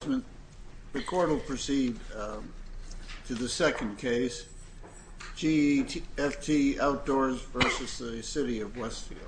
The court will proceed to the second case, GEFT Outdoors v. City of Westfield.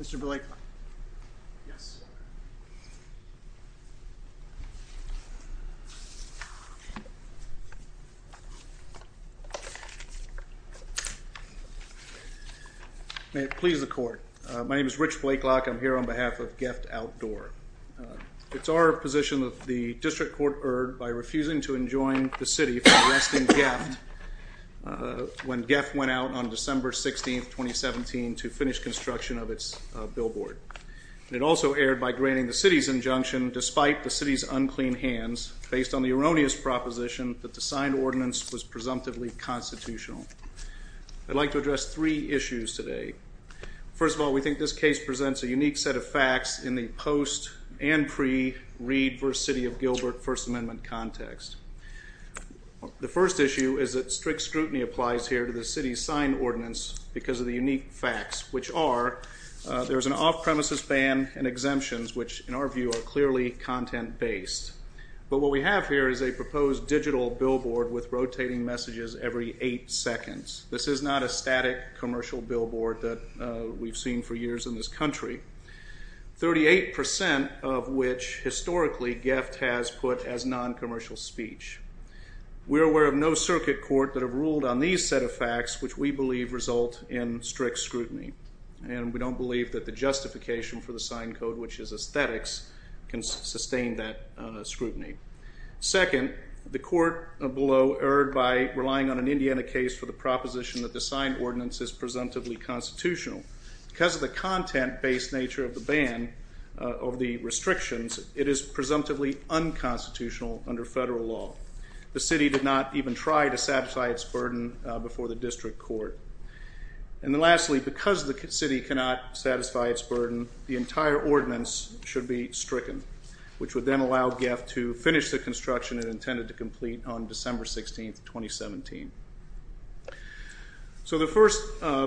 Mr. Blake. Yes. May it please the court. My name is Rich Blakelock. I'm here on behalf of GEFT Outdoors. It's our position that the district court erred by refusing to enjoin the city for arresting GEFT when GEFT went out on December 16, 2017 to finish construction of its billboard. It also erred by granting the city's injunction, despite the city's unclean hands, based on the erroneous proposition that the signed ordinance was presumptively constitutional. I'd like to address three issues today. First of all, we think this case presents a unique set of facts in the post and pre-Reed v. City of Gilbert First Amendment context. The first issue is that strict scrutiny applies here to the city's signed ordinance because of the unique facts, which are there's an off-premises ban and exemptions, which in our view are clearly content-based. But what we have here is a proposed digital billboard with rotating messages every eight seconds. This is not a static commercial billboard that we've seen for years in this country, 38% of which historically GEFT has put as non-commercial speech. We're aware of no circuit court that have ruled on these set of facts, which we believe result in strict scrutiny. And we don't believe that the justification for the signed code, which is aesthetics, can sustain that scrutiny. Second, the court below erred by relying on an Indiana case for the proposition that the signed ordinance is presumptively constitutional. Because of the content-based nature of the restrictions, it is presumptively unconstitutional under federal law. The city did not even try to satisfy its burden before the district court. And then lastly, because the city cannot satisfy its burden, the entire ordinance should be stricken, which would then allow GEFT to finish the construction it intended to complete on December 16, 2017. So the first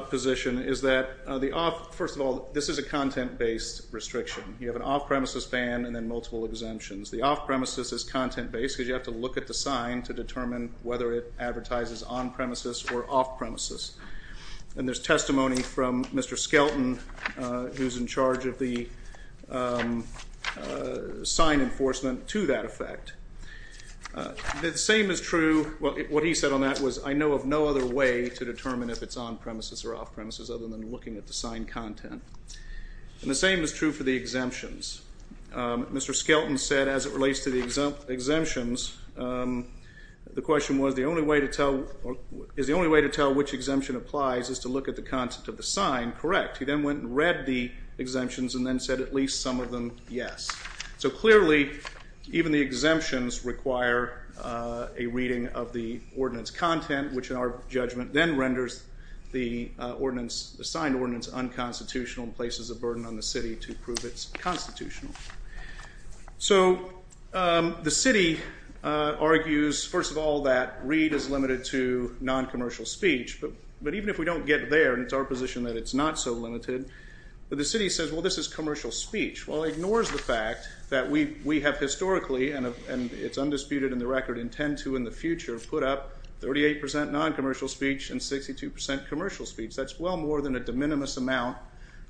position is that, first of all, this is a content-based restriction. You have an off-premises ban and then multiple exemptions. The off-premises is content-based because you have to look at the sign to determine whether it advertises on-premises or off-premises. And there's testimony from Mr. Skelton, who's in charge of the sign enforcement, to that effect. The same is true, well, what he said on that was, I know of no other way to determine if it's on-premises or off-premises other than looking at the signed content. And the same is true for the exemptions. Mr. Skelton said, as it relates to the exemptions, the question was, is the only way to tell which exemption applies is to look at the content of the sign? Correct. He then went and read the exemptions and then said at least some of them, yes. So clearly, even the exemptions require a reading of the ordinance content, which in our judgment then renders the signed ordinance unconstitutional and places a burden on the city to prove it's constitutional. So the city argues, first of all, that read is limited to non-commercial speech. But even if we don't get there, and it's our position that it's not so limited, but the city says, well, this is commercial speech. Well, it ignores the fact that we have historically, and it's undisputed in the record, intend to in the future, put up 38% non-commercial speech and 62% commercial speech. That's well more than a de minimis amount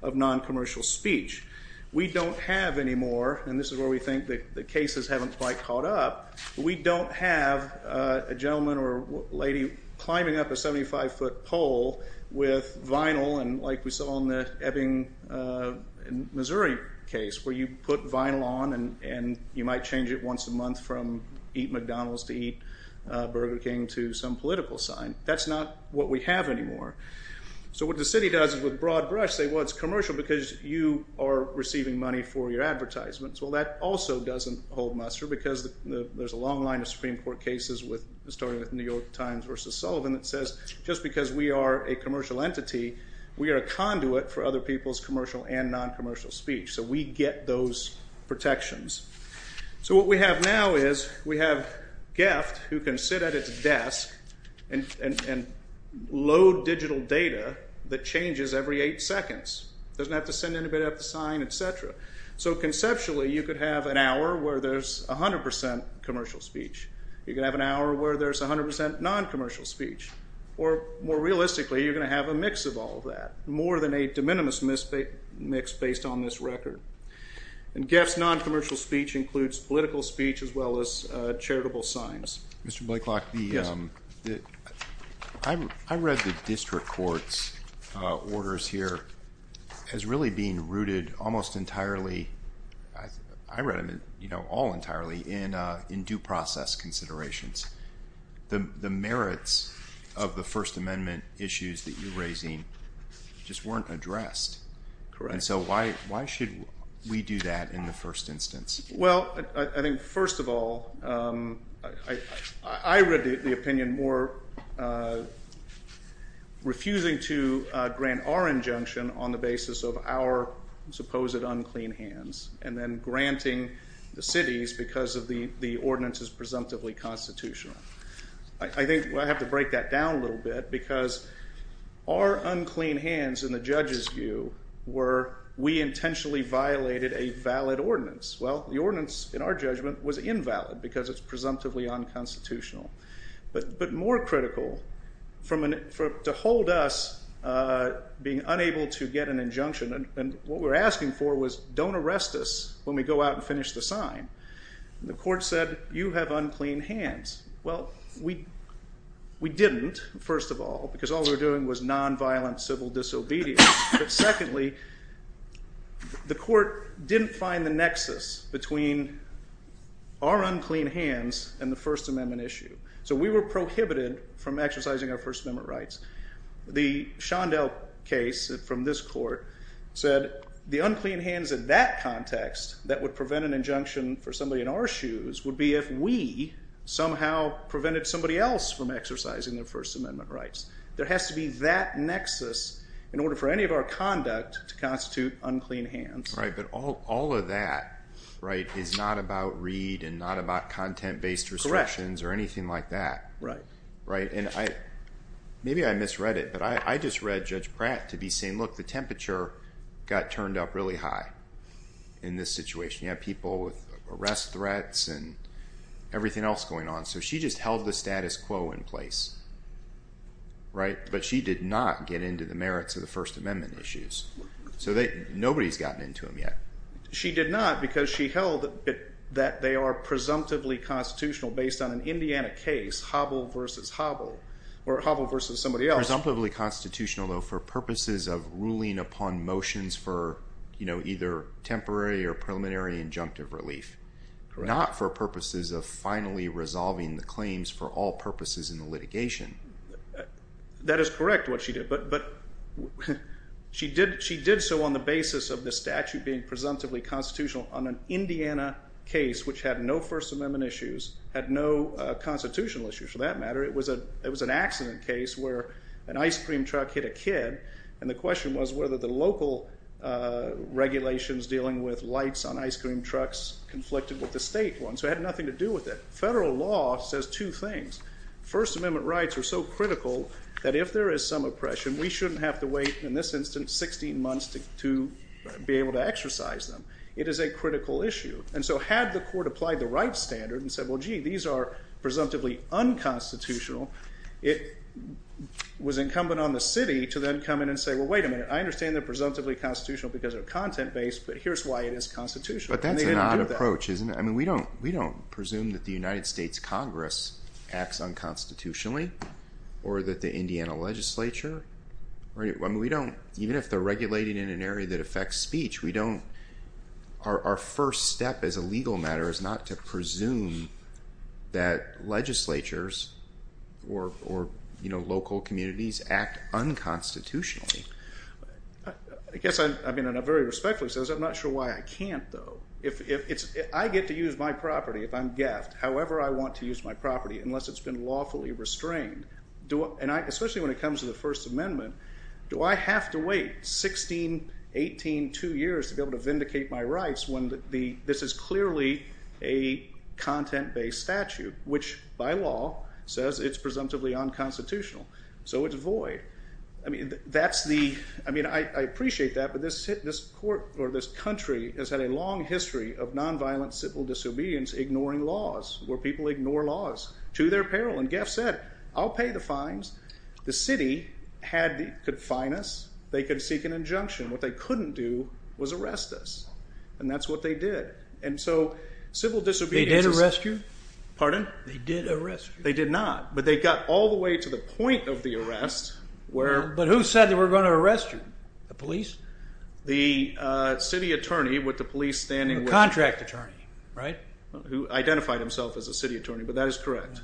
of non-commercial speech. We don't have any more, and this is where we think the cases haven't quite caught up. We don't have a gentleman or lady climbing up a 75-foot pole with vinyl and like we saw in the Ebbing, Missouri case where you put vinyl on and you might change it once a month from eat McDonald's to eat Burger King to some political sign. That's not what we have anymore. So what the city does is with broad brush, say, well, it's commercial because you are receiving money for your advertisements. Well, that also doesn't hold muster because there's a long line of Supreme Court cases starting with New York Times versus Sullivan that says just because we are a commercial entity, we are a conduit for other people's commercial and non-commercial speech. So we get those protections. So what we have now is we have GIFT who can sit at its desk and load digital data that changes every eight seconds. It doesn't have to send anybody up to sign, et cetera. So conceptually, you could have an hour where there's 100% commercial speech. You could have an hour where there's 100% non-commercial speech. Or more realistically, you're going to have a mix of all of that, more than a de minimis mix based on this record. And GIFT's non-commercial speech includes political speech as well as charitable signs. Mr. Blakelock, I read the district court's orders here as really being rooted almost entirely. I read them all entirely in due process considerations. The merits of the First Amendment issues that you're raising just weren't addressed. Correct. And so why should we do that in the first instance? Well, I think first of all, I read the opinion more refusing to grant our injunction on the basis of our supposed unclean hands and then granting the city's because of the ordinance's presumptively constitutional. I think I have to break that down a little bit because our unclean hands in the judge's view were we intentionally violated a valid ordinance. Well, the ordinance in our judgment was invalid because it's presumptively unconstitutional. But more critical, to hold us being unable to get an injunction, and what we're asking for was don't arrest us when we go out and finish the sign. The court said, you have unclean hands. Well, we didn't, first of all, because all we were doing was non-violent civil disobedience. But secondly, the court didn't find the nexus between our unclean hands and the First Amendment issue. So we were prohibited from exercising our First Amendment rights. The Shondell case from this court said the unclean hands in that context that would prevent an injunction for somebody in our shoes would be if we somehow prevented somebody else from exercising their First Amendment rights. There has to be that nexus in order for any of our conduct to constitute unclean hands. Right, but all of that is not about read and not about content-based restrictions or anything like that. Right. Maybe I misread it, but I just read Judge Pratt to be saying, look, the temperature got turned up really high in this situation. You have people with arrest threats and everything else going on. So she just held the status quo in place, right? But she did not get into the merits of the First Amendment issues. So nobody's gotten into them yet. She did not because she held that they are presumptively constitutional based on an Indiana case, Hobble versus Hobble, or Hobble versus somebody else. Presumptively constitutional, though, for purposes of ruling upon motions for either temporary or preliminary injunctive relief. Correct. Not for purposes of finally resolving the claims for all purposes in the litigation. That is correct, what she did. But she did so on the basis of the statute being presumptively constitutional on an Indiana case, which had no First Amendment issues, had no constitutional issues for that matter. It was an accident case where an ice cream truck hit a kid. And the question was whether the local regulations dealing with lights on ice cream trucks conflicted with the state ones. So it had nothing to do with it. Federal law says two things. First Amendment rights are so critical that if there is some oppression, we shouldn't have to wait, in this instance, 16 months to be able to exercise them. It is a critical issue. And so had the court applied the right standard and said, well, gee, these are presumptively unconstitutional, it was incumbent on the city to then come in and say, well, wait a minute. I understand they're presumptively constitutional because they're content based, but here's why it is constitutional. But that's an odd approach, isn't it? I mean, we don't presume that the United States Congress acts unconstitutionally or that the Indiana legislature. I mean, we don't, even if they're regulating in an area that affects speech, we don't, our first step as a legal matter is not to presume that legislatures or local communities act unconstitutionally. I guess, I mean, and I very respectfully say this, I'm not sure why I can't, though. I get to use my property if I'm gaffed, however I want to use my property, unless it's been lawfully restrained. And I, especially when it comes to the First Amendment, do I have to wait 16, 18, two years to be able to vindicate my rights when this is clearly a content-based statute, which by law says it's presumptively unconstitutional. So it's void. I mean, that's the, I mean, I appreciate that, but this court or this country has had a long history of nonviolent civil disobedience ignoring laws where people ignore laws to their peril. And Gaff said, I'll pay the fines. The city had the, could fine us. They could seek an injunction. What they couldn't do was arrest us. And that's what they did. And so civil disobedience is... They did arrest you? Pardon? They did arrest you. They did not, but they got all the way to the point of the arrest where... But who said they were going to arrest you? The police? The city attorney with the police standing with... The contract attorney, right? Who identified himself as a city attorney, but that is correct.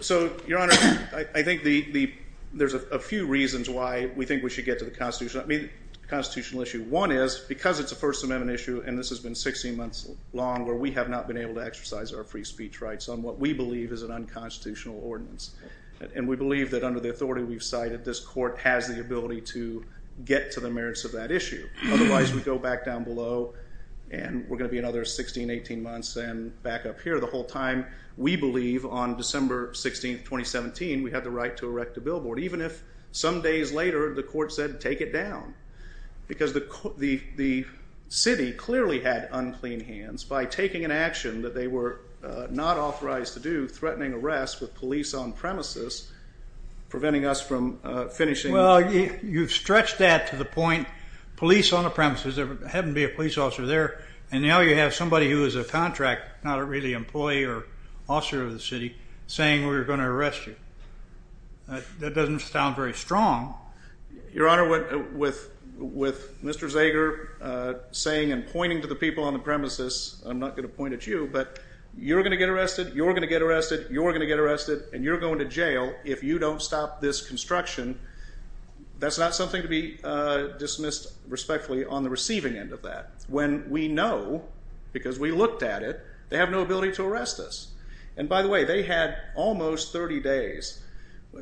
So, Your Honor, I think there's a few reasons why we think we should get to the constitutional issue. One is because it's a First Amendment issue and this has been 16 months long where we have not been able to exercise our free speech rights on what we believe is an unconstitutional ordinance. And we believe that under the authority we've cited, this court has the ability to get to the merits of that issue. Otherwise, we go back down below and we're going to be another 16, 18 months and back up here the whole time. We believe on December 16, 2017, we had the right to erect a billboard, even if some days later the court said, take it down. Because the city clearly had unclean hands by taking an action that they were not authorized to do, threatening arrest with police on premises, preventing us from finishing... Well, you've stretched that to the point, police on the premises, there had to be a police officer there. And now you have somebody who is a contract, not really an employee or officer of the city, saying we're going to arrest you. That doesn't sound very strong. Your Honor, with Mr. Zager saying and pointing to the people on the premises, I'm not going to point at you, but you're going to get arrested, you're going to get arrested, you're going to get arrested, and you're going to jail if you don't stop this construction. That's not something to be dismissed respectfully on the receiving end of that. When we know, because we looked at it, they have no ability to arrest us. And by the way, they had almost 30 days.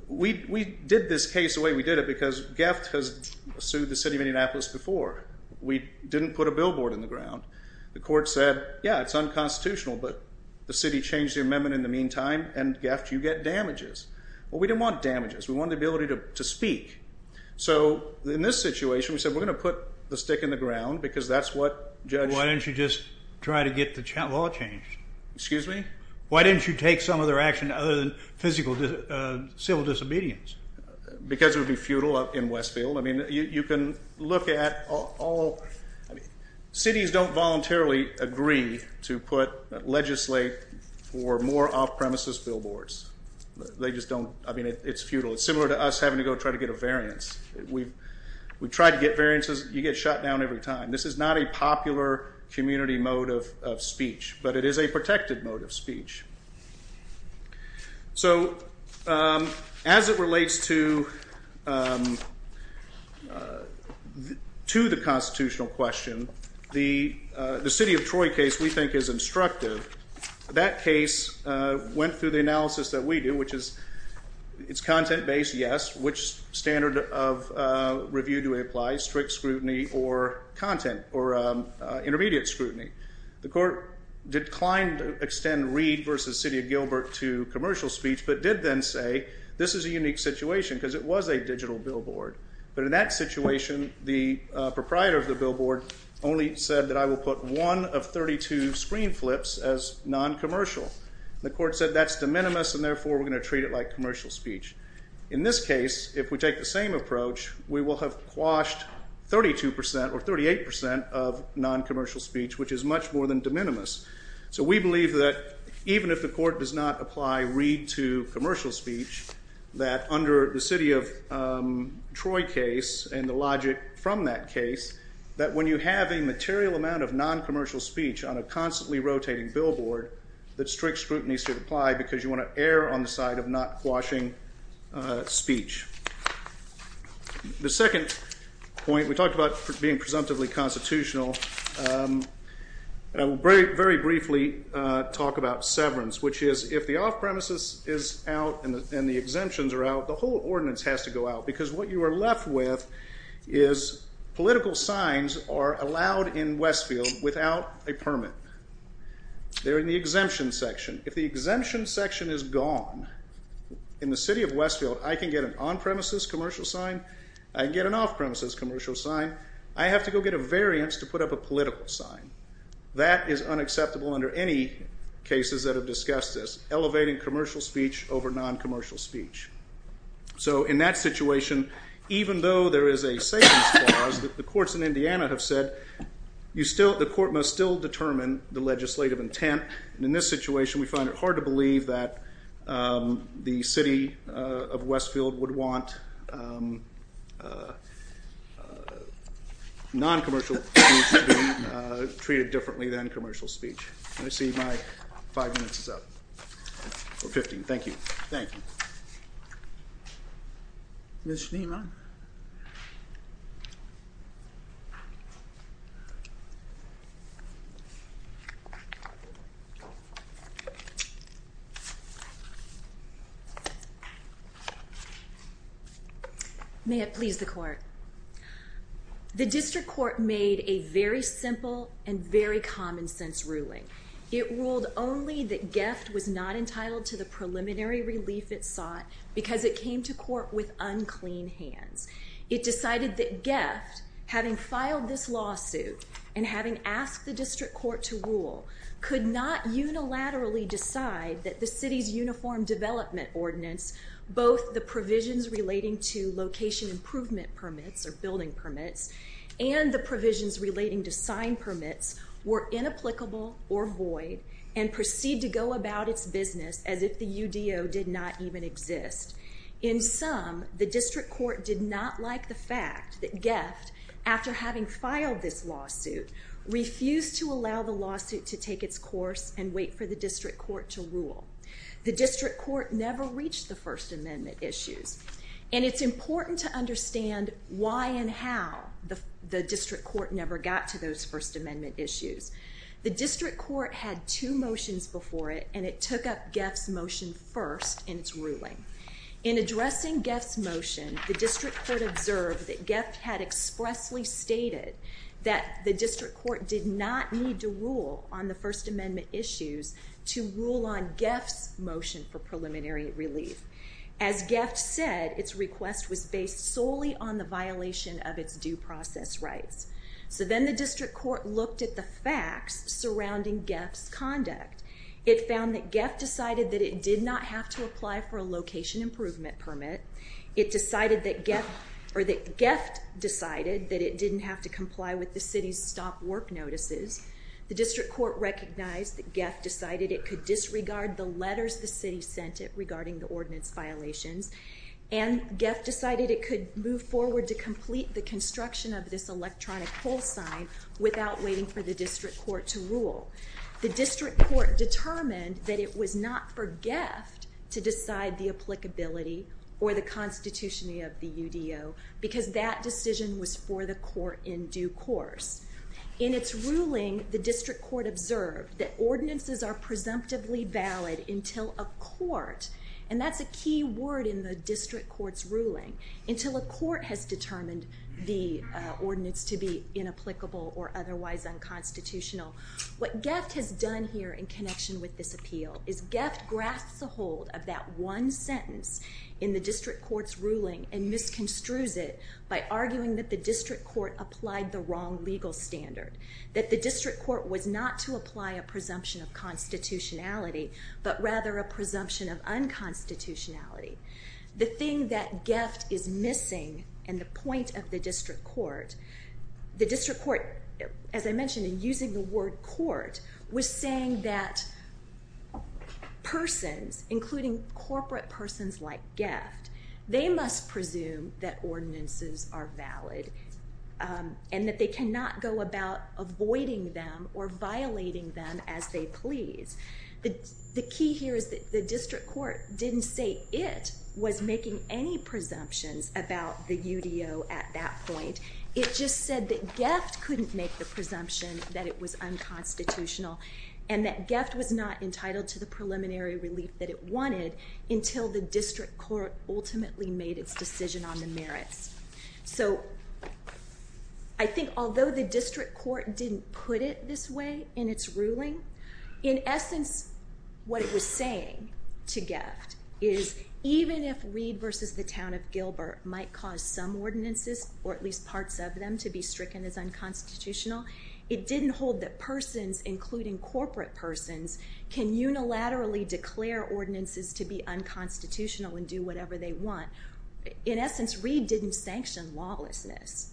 We did this case the way we did it, because Geft has sued the city of Indianapolis before. We didn't put a billboard in the ground. The court said, yeah, it's unconstitutional, but the city changed their amendment in the meantime, and Geft, you get damages. Well, we didn't want damages. We wanted the ability to speak. So in this situation, we said we're going to put the stick in the ground, because that's what judge... Why didn't you just try to get the law changed? Excuse me? Why didn't you take some of their action other than civil disobedience? Because it would be futile in Westfield. I mean, you can look at all... Cities don't voluntarily agree to legislate for more off-premises billboards. They just don't... I mean, it's futile. It's similar to us having to go try to get a variance. We've tried to get variances. You get shut down every time. This is not a popular community mode of speech, but it is a protected mode of speech. So as it relates to the constitutional question, the city of Troy case we think is instructive. That case went through the analysis that we do, which is it's content-based, yes. Which standard of review do we apply, strict scrutiny or content or intermediate scrutiny? The court declined to extend Reed v. City of Gilbert to commercial speech, but did then say this is a unique situation because it was a digital billboard. But in that situation, the proprietor of the billboard only said that I will put one of 32 screen flips as non-commercial. The court said that's de minimis, and therefore we're going to treat it like commercial speech. In this case, if we take the same approach, we will have quashed 32 percent or 38 percent of non-commercial speech, which is much more than de minimis. So we believe that even if the court does not apply Reed to commercial speech, that under the city of Troy case and the logic from that case, that when you have a material amount of non-commercial speech on a constantly rotating billboard, that strict scrutiny should apply because you want to err on the side of not quashing speech. The second point, we talked about being presumptively constitutional. I will very briefly talk about severance, which is if the off-premises is out and the exemptions are out, the whole ordinance has to go out because what you are left with is political signs are allowed in Westfield without a permit. They're in the exemption section. If the exemption section is gone, in the city of Westfield, I can get an on-premises commercial sign. I can get an off-premises commercial sign. I have to go get a variance to put up a political sign. That is unacceptable under any cases that have discussed this, elevating commercial speech over non-commercial speech. In that situation, even though there is a savings clause, the courts in Indiana have said the court must still determine the legislative intent. In this situation, we find it hard to believe that the city of Westfield would want non-commercial speech to be treated differently than commercial speech. I see my five minutes is up. Thank you. May it please the court. The district court made a very simple and very common sense ruling. It ruled only that GEFT was not entitled to the preliminary relief it sought because it came to court with unclean hands. It decided that GEFT, having filed this lawsuit and having asked the district court to rule, could not unilaterally decide that the city's uniform development ordinance, both the provisions relating to location improvement permits or building permits and the provisions relating to sign permits, were inapplicable or void and proceed to go about its business as if the UDO did not even exist. In sum, the district court did not like the fact that GEFT, after having filed this lawsuit, refused to allow the lawsuit to take its course and wait for the district court to rule. The district court never reached the First Amendment issues, and it's important to understand why and how the district court never got to those First Amendment issues. The district court had two motions before it, and it took up GEFT's motion first in its ruling. In addressing GEFT's motion, the district court observed that GEFT had expressly stated that the district court did not need to rule on the First Amendment issues to rule on GEFT's motion for preliminary relief. As GEFT said, its request was based solely on the violation of its due process rights. So then the district court looked at the facts surrounding GEFT's conduct. It found that GEFT decided that it did not have to apply for a location improvement permit. It decided that GEFT decided that it didn't have to comply with the city's stop work notices. The district court recognized that GEFT decided it could disregard the letters the city sent it regarding the ordinance violations, and GEFT decided it could move forward to complete the construction of this electronic pull sign without waiting for the district court to rule. The district court determined that it was not for GEFT to decide the applicability or the constitutionality of the UDO, because that decision was for the court in due course. In its ruling, the district court observed that ordinances are presumptively valid until a court, and that's a key word in the district court's ruling, until a court has determined the ordinance to be inapplicable or otherwise unconstitutional. What GEFT has done here in connection with this appeal is GEFT grasps a hold of that one sentence in the district court's ruling and misconstrues it by arguing that the district court applied the wrong legal standard, that the district court was not to apply a presumption of constitutionality, but rather a presumption of unconstitutionality. The thing that GEFT is missing, and the point of the district court, the district court, as I mentioned in using the word court, was saying that persons, including corporate persons like GEFT, they must presume that ordinances are valid, and that they cannot go about avoiding them or violating them as they please. The key here is that the district court didn't say it was making any presumptions about the UDO at that point. It just said that GEFT couldn't make the presumption that it was unconstitutional, and that GEFT was not entitled to the preliminary relief that it wanted until the district court ultimately made its decision on the merits. So I think although the district court didn't put it this way in its ruling, in essence what it was saying to GEFT is even if Reed versus the town of Gilbert might cause some ordinances, or at least parts of them, to be stricken as unconstitutional, it didn't hold that persons, including corporate persons, can unilaterally declare ordinances to be unconstitutional and do whatever they want. In essence, Reed didn't sanction lawlessness.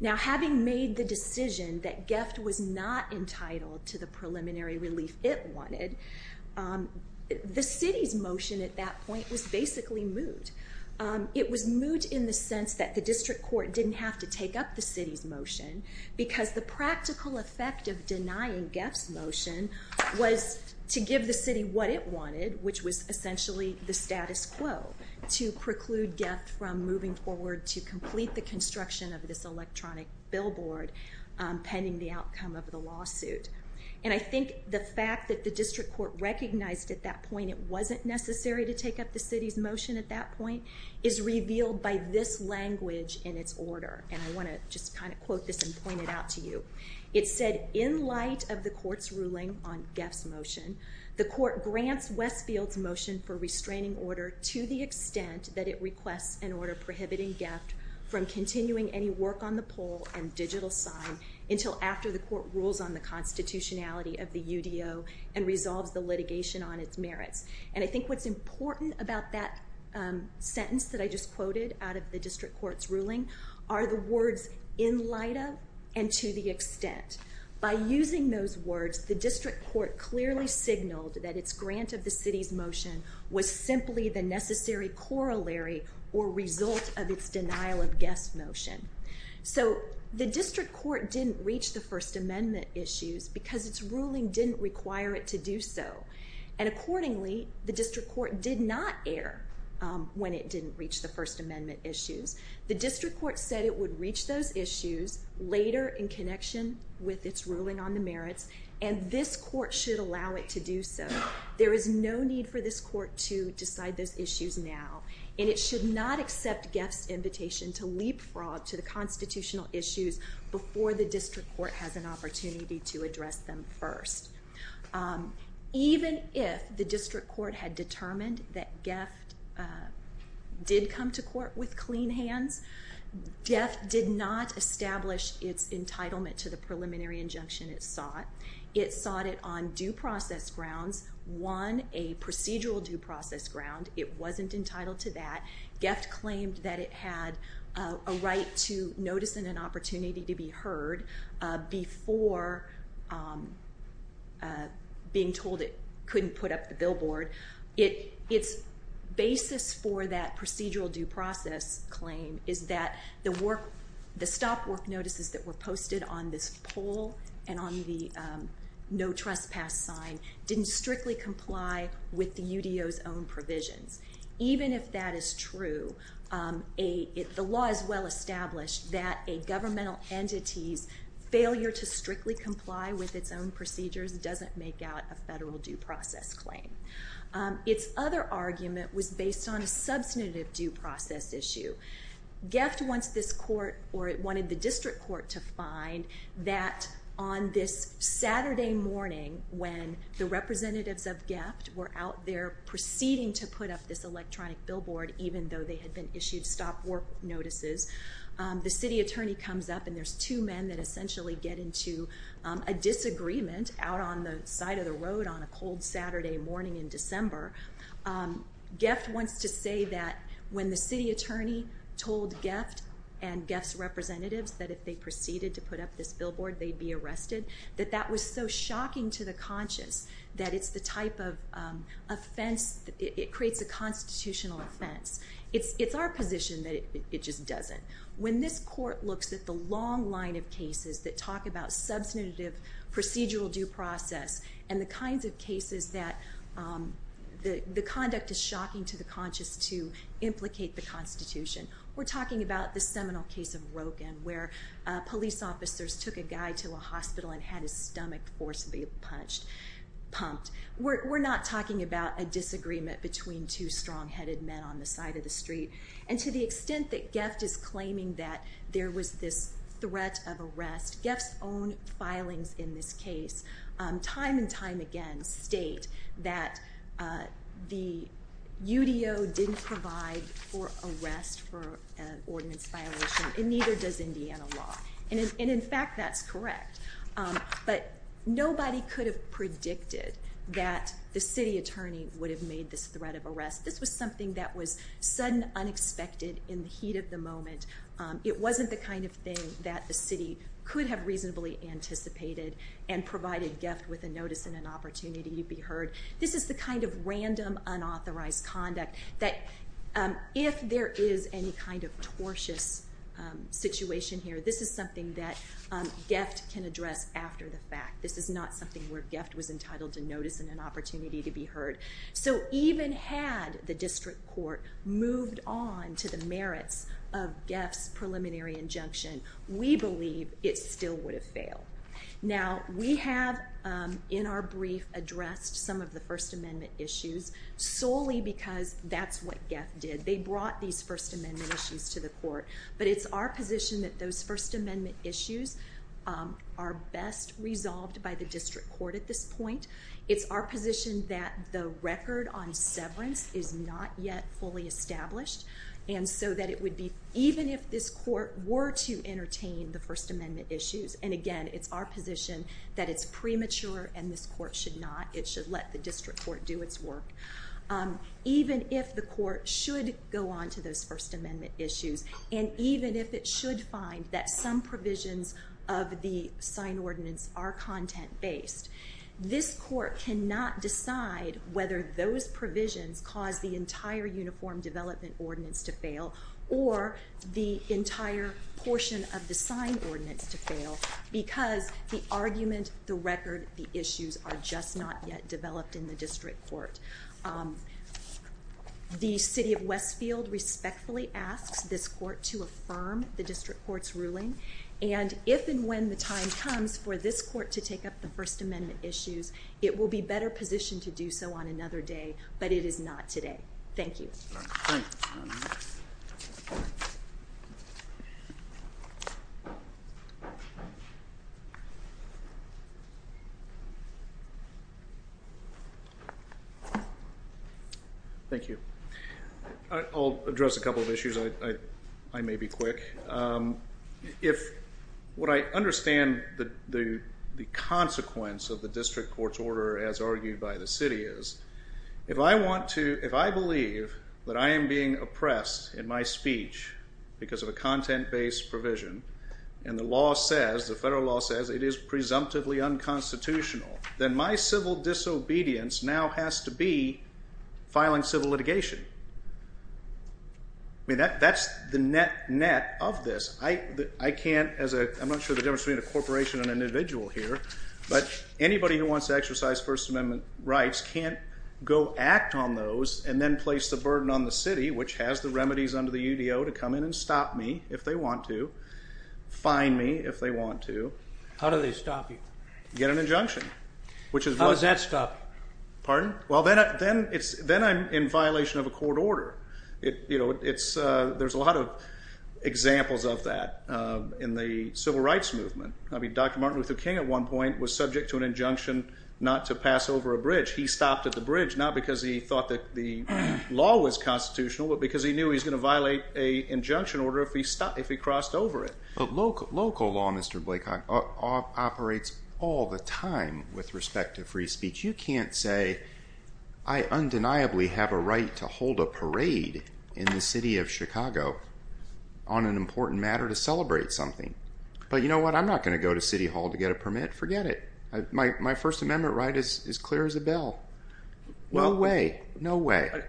Now having made the decision that GEFT was not entitled to the preliminary relief it wanted, the city's motion at that point was basically moot. It was moot in the sense that the district court didn't have to take up the city's motion, because the practical effect of denying GEFT's motion was to give the city what it wanted, which was essentially the status quo to preclude GEFT from moving forward to complete the construction of this electronic billboard pending the outcome of the lawsuit. And I think the fact that the district court recognized at that point it wasn't necessary to take up the city's motion at that point is revealed by this language in its order, and I want to just kind of quote this and point it out to you. It said, in light of the court's ruling on GEFT's motion, the court grants Westfield's motion for restraining order to the extent that it requests an order prohibiting GEFT from continuing any work on the pole and digital sign until after the court rules on the constitutionality of the UDO and resolves the litigation on its merits. And I think what's important about that sentence that I just quoted out of the district court's ruling are the words, in light of, and to the extent. By using those words, the district court clearly signaled that its grant of the city's motion was simply the necessary corollary or result of its denial of GEFT's motion. So, the district court didn't reach the First Amendment issues because its ruling didn't require it to do so. And accordingly, the district court did not err when it didn't reach the First Amendment issues. The district court said it would reach those issues later in connection with its ruling on the merits, and this court should allow it to do so. There is no need for this court to decide those issues now. And it should not accept GEFT's invitation to leapfrog to the constitutional issues before the district court has an opportunity to address them first. Even if the district court had determined that GEFT did come to court with clean hands, GEFT did not establish its entitlement to the preliminary injunction it sought. It sought it on due process grounds. One, a procedural due process ground. It wasn't entitled to that. GEFT claimed that it had a right to notice and an opportunity to be heard before being told it couldn't put up the billboard. Its basis for that procedural due process claim is that the stop work notices that were posted on this poll and on the no trespass sign didn't strictly comply with the UDO's own provisions. Even if that is true, the law is well established that a governmental entity's failure to strictly comply with its own procedures doesn't make out a federal due process claim. Its other argument was based on a substantive due process issue. GEFT wanted the district court to find that on this Saturday morning, when the representatives of GEFT were out there proceeding to put up this electronic billboard, even though they had been issued stop work notices, the city attorney comes up and there's two men that essentially get into a disagreement out on the side of the road on a cold Saturday morning in December. GEFT wants to say that when the city attorney told GEFT and GEFT's representatives that if they proceeded to put up this billboard, they'd be arrested, that that was so shocking to the conscious that it's the type of offense, it creates a constitutional offense. It's our position that it just doesn't. When this court looks at the long line of cases that talk about substantive procedural due process and the kinds of cases that the conduct is shocking to the conscious to implicate the Constitution. We're talking about the seminal case of Roken where police officers took a guy to a hospital and had his stomach forcibly punched, pumped. We're not talking about a disagreement between two strong-headed men on the side of the street. And to the extent that GEFT is claiming that there was this threat of arrest, GEFT's own filings in this case time and time again state that the UDO didn't provide for arrest for an ordinance violation and neither does Indiana law. And in fact, that's correct. But nobody could have predicted that the city attorney would have made this threat of arrest. This was something that was sudden, unexpected, in the heat of the moment. It wasn't the kind of thing that the city could have reasonably anticipated and provided GEFT with a notice and an opportunity to be heard. This is the kind of random, unauthorized conduct that if there is any kind of tortuous situation here, this is something that GEFT can address after the fact. This is not something where GEFT was entitled to notice and an opportunity to be heard. So even had the district court moved on to the merits of GEFT's preliminary injunction, we believe it still would have failed. Now, we have in our brief addressed some of the First Amendment issues solely because that's what GEFT did. They brought these First Amendment issues to the court. But it's our position that those First Amendment issues are best resolved by the district court at this point. It's our position that the record on severance is not yet fully established, and so that it would be, even if this court were to entertain the First Amendment issues, and again, it's our position that it's premature and this court should not. It should let the district court do its work. Even if the court should go on to those First Amendment issues, and even if it should find that some provisions of the sign ordinance are content-based, this court cannot decide whether those provisions cause the entire Uniform Development Ordinance to fail or the entire portion of the sign ordinance to fail because the argument, the record, the issues are just not yet developed in the district court. The city of Westfield respectfully asks this court to affirm the district court's ruling, and if and when the time comes for this court to take up the First Amendment issues, it will be better positioned to do so on another day, but it is not today. Thank you. Thank you. Thank you. I'll address a couple of issues. I may be quick. If what I understand the consequence of the district court's order as argued by the city is, if I want to, if I believe that I am being oppressed in my speech because of a content-based provision and the law says, the federal law says it is presumptively unconstitutional, then my civil disobedience now has to be filing civil litigation. I mean that's the net of this. I can't, I'm not sure the difference between a corporation and an individual here, but anybody who wants to exercise First Amendment rights can't go act on those and then place the burden on the city, which has the remedies under the UDO, to come in and stop me if they want to, fine me if they want to. How do they stop you? You get an injunction. How does that stop you? Pardon? Well, then I'm in violation of a court order. There's a lot of examples of that in the civil rights movement. I mean Dr. Martin Luther King at one point was subject to an injunction not to pass over a bridge. He stopped at the bridge not because he thought that the law was constitutional, but because he knew he was going to violate an injunction order if he crossed over it. Local law, Mr. Blaycock, operates all the time with respect to free speech. You can't say, I undeniably have a right to hold a parade in the city of Chicago on an important matter to celebrate something. But you know what? I'm not going to go to City Hall to get a permit. Forget it. My First Amendment right is clear as a bell. No way. No way.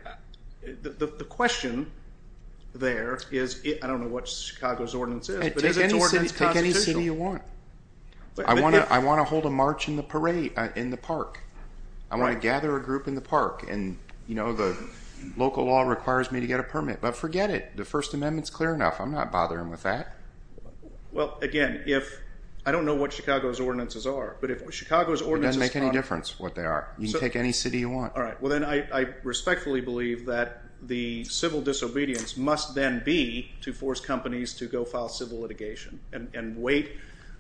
The question there is, I don't know what Chicago's ordinance is, but is its ordinance constitutional? Take any city you want. I want to hold a march in the park. I want to gather a group in the park, and the local law requires me to get a permit. But forget it. The First Amendment is clear enough. I'm not bothering with that. Well, again, I don't know what Chicago's ordinances are, but if Chicago's ordinance is constitutional. It doesn't make any difference what they are. You can take any city you want. All right. Well, then I respectfully believe that the civil disobedience must then be to force companies to go file civil litigation and wait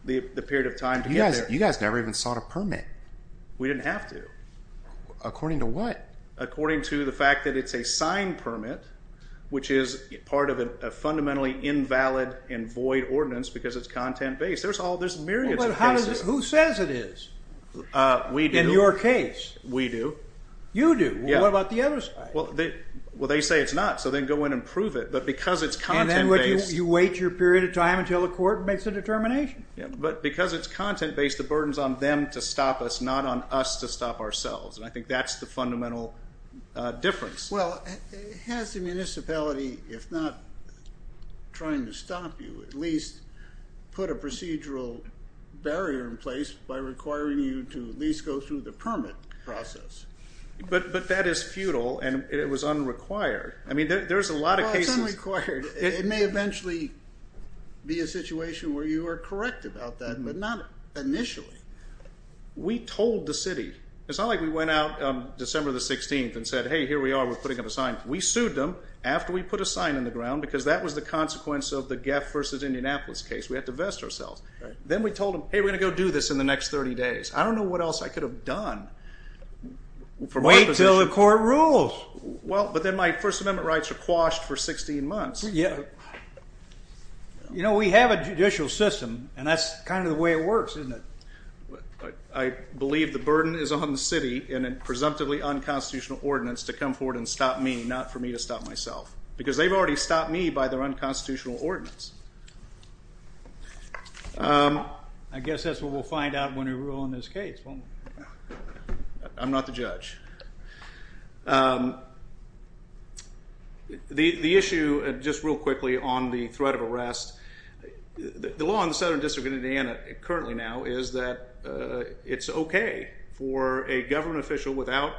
the period of time to get there. You guys never even sought a permit. We didn't have to. According to what? According to the fact that it's a signed permit, which is part of a fundamentally invalid and void ordinance because it's content-based. There's myriads of cases. Who says it is in your case? We do. You do. What about the other side? Well, they say it's not, so they can go in and prove it. But because it's content-based. And then you wait your period of time until the court makes a determination. But because it's content-based, the burden is on them to stop us, not on us to stop ourselves. And I think that's the fundamental difference. Well, has the municipality, if not trying to stop you, at least put a procedural barrier in place by requiring you to at least go through the permit process? But that is futile and it was unrequired. I mean, there's a lot of cases. Well, it's unrequired. It may eventually be a situation where you are correct about that, but not initially. We told the city. It's not like we went out December the 16th and said, hey, here we are, we're putting up a sign. We sued them after we put a sign in the ground because that was the consequence of the Geff versus Indianapolis case. We had to vest ourselves. Then we told them, hey, we're going to go do this in the next 30 days. I don't know what else I could have done. Wait until the court rules. Well, but then my First Amendment rights are quashed for 16 months. You know, we have a judicial system, and that's kind of the way it works, isn't it? I believe the burden is on the city in a presumptively unconstitutional ordinance to come forward and stop me, not for me to stop myself. Because they've already stopped me by their unconstitutional ordinance. I guess that's what we'll find out when we rule on this case, won't we? I'm not the judge. The issue, just real quickly, on the threat of arrest, the law in the Southern District of Indiana currently now is that it's okay for a government official without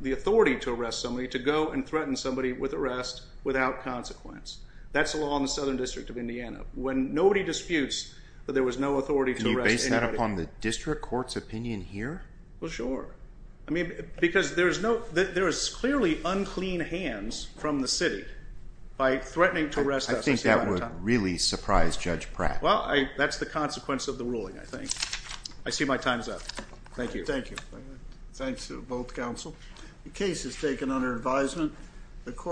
the authority to arrest somebody to go and threaten somebody with arrest without consequence. That's the law in the Southern District of Indiana. When nobody disputes that there was no authority to arrest anybody... Can you base that upon the district court's opinion here? Well, sure. I mean, because there is clearly unclean hands from the city by threatening to arrest us. I think that would really surprise Judge Pratt. Well, that's the consequence of the ruling, I think. I see my time is up. Thank you. Thank you. Thanks to both counsel. The case is taken under advisement.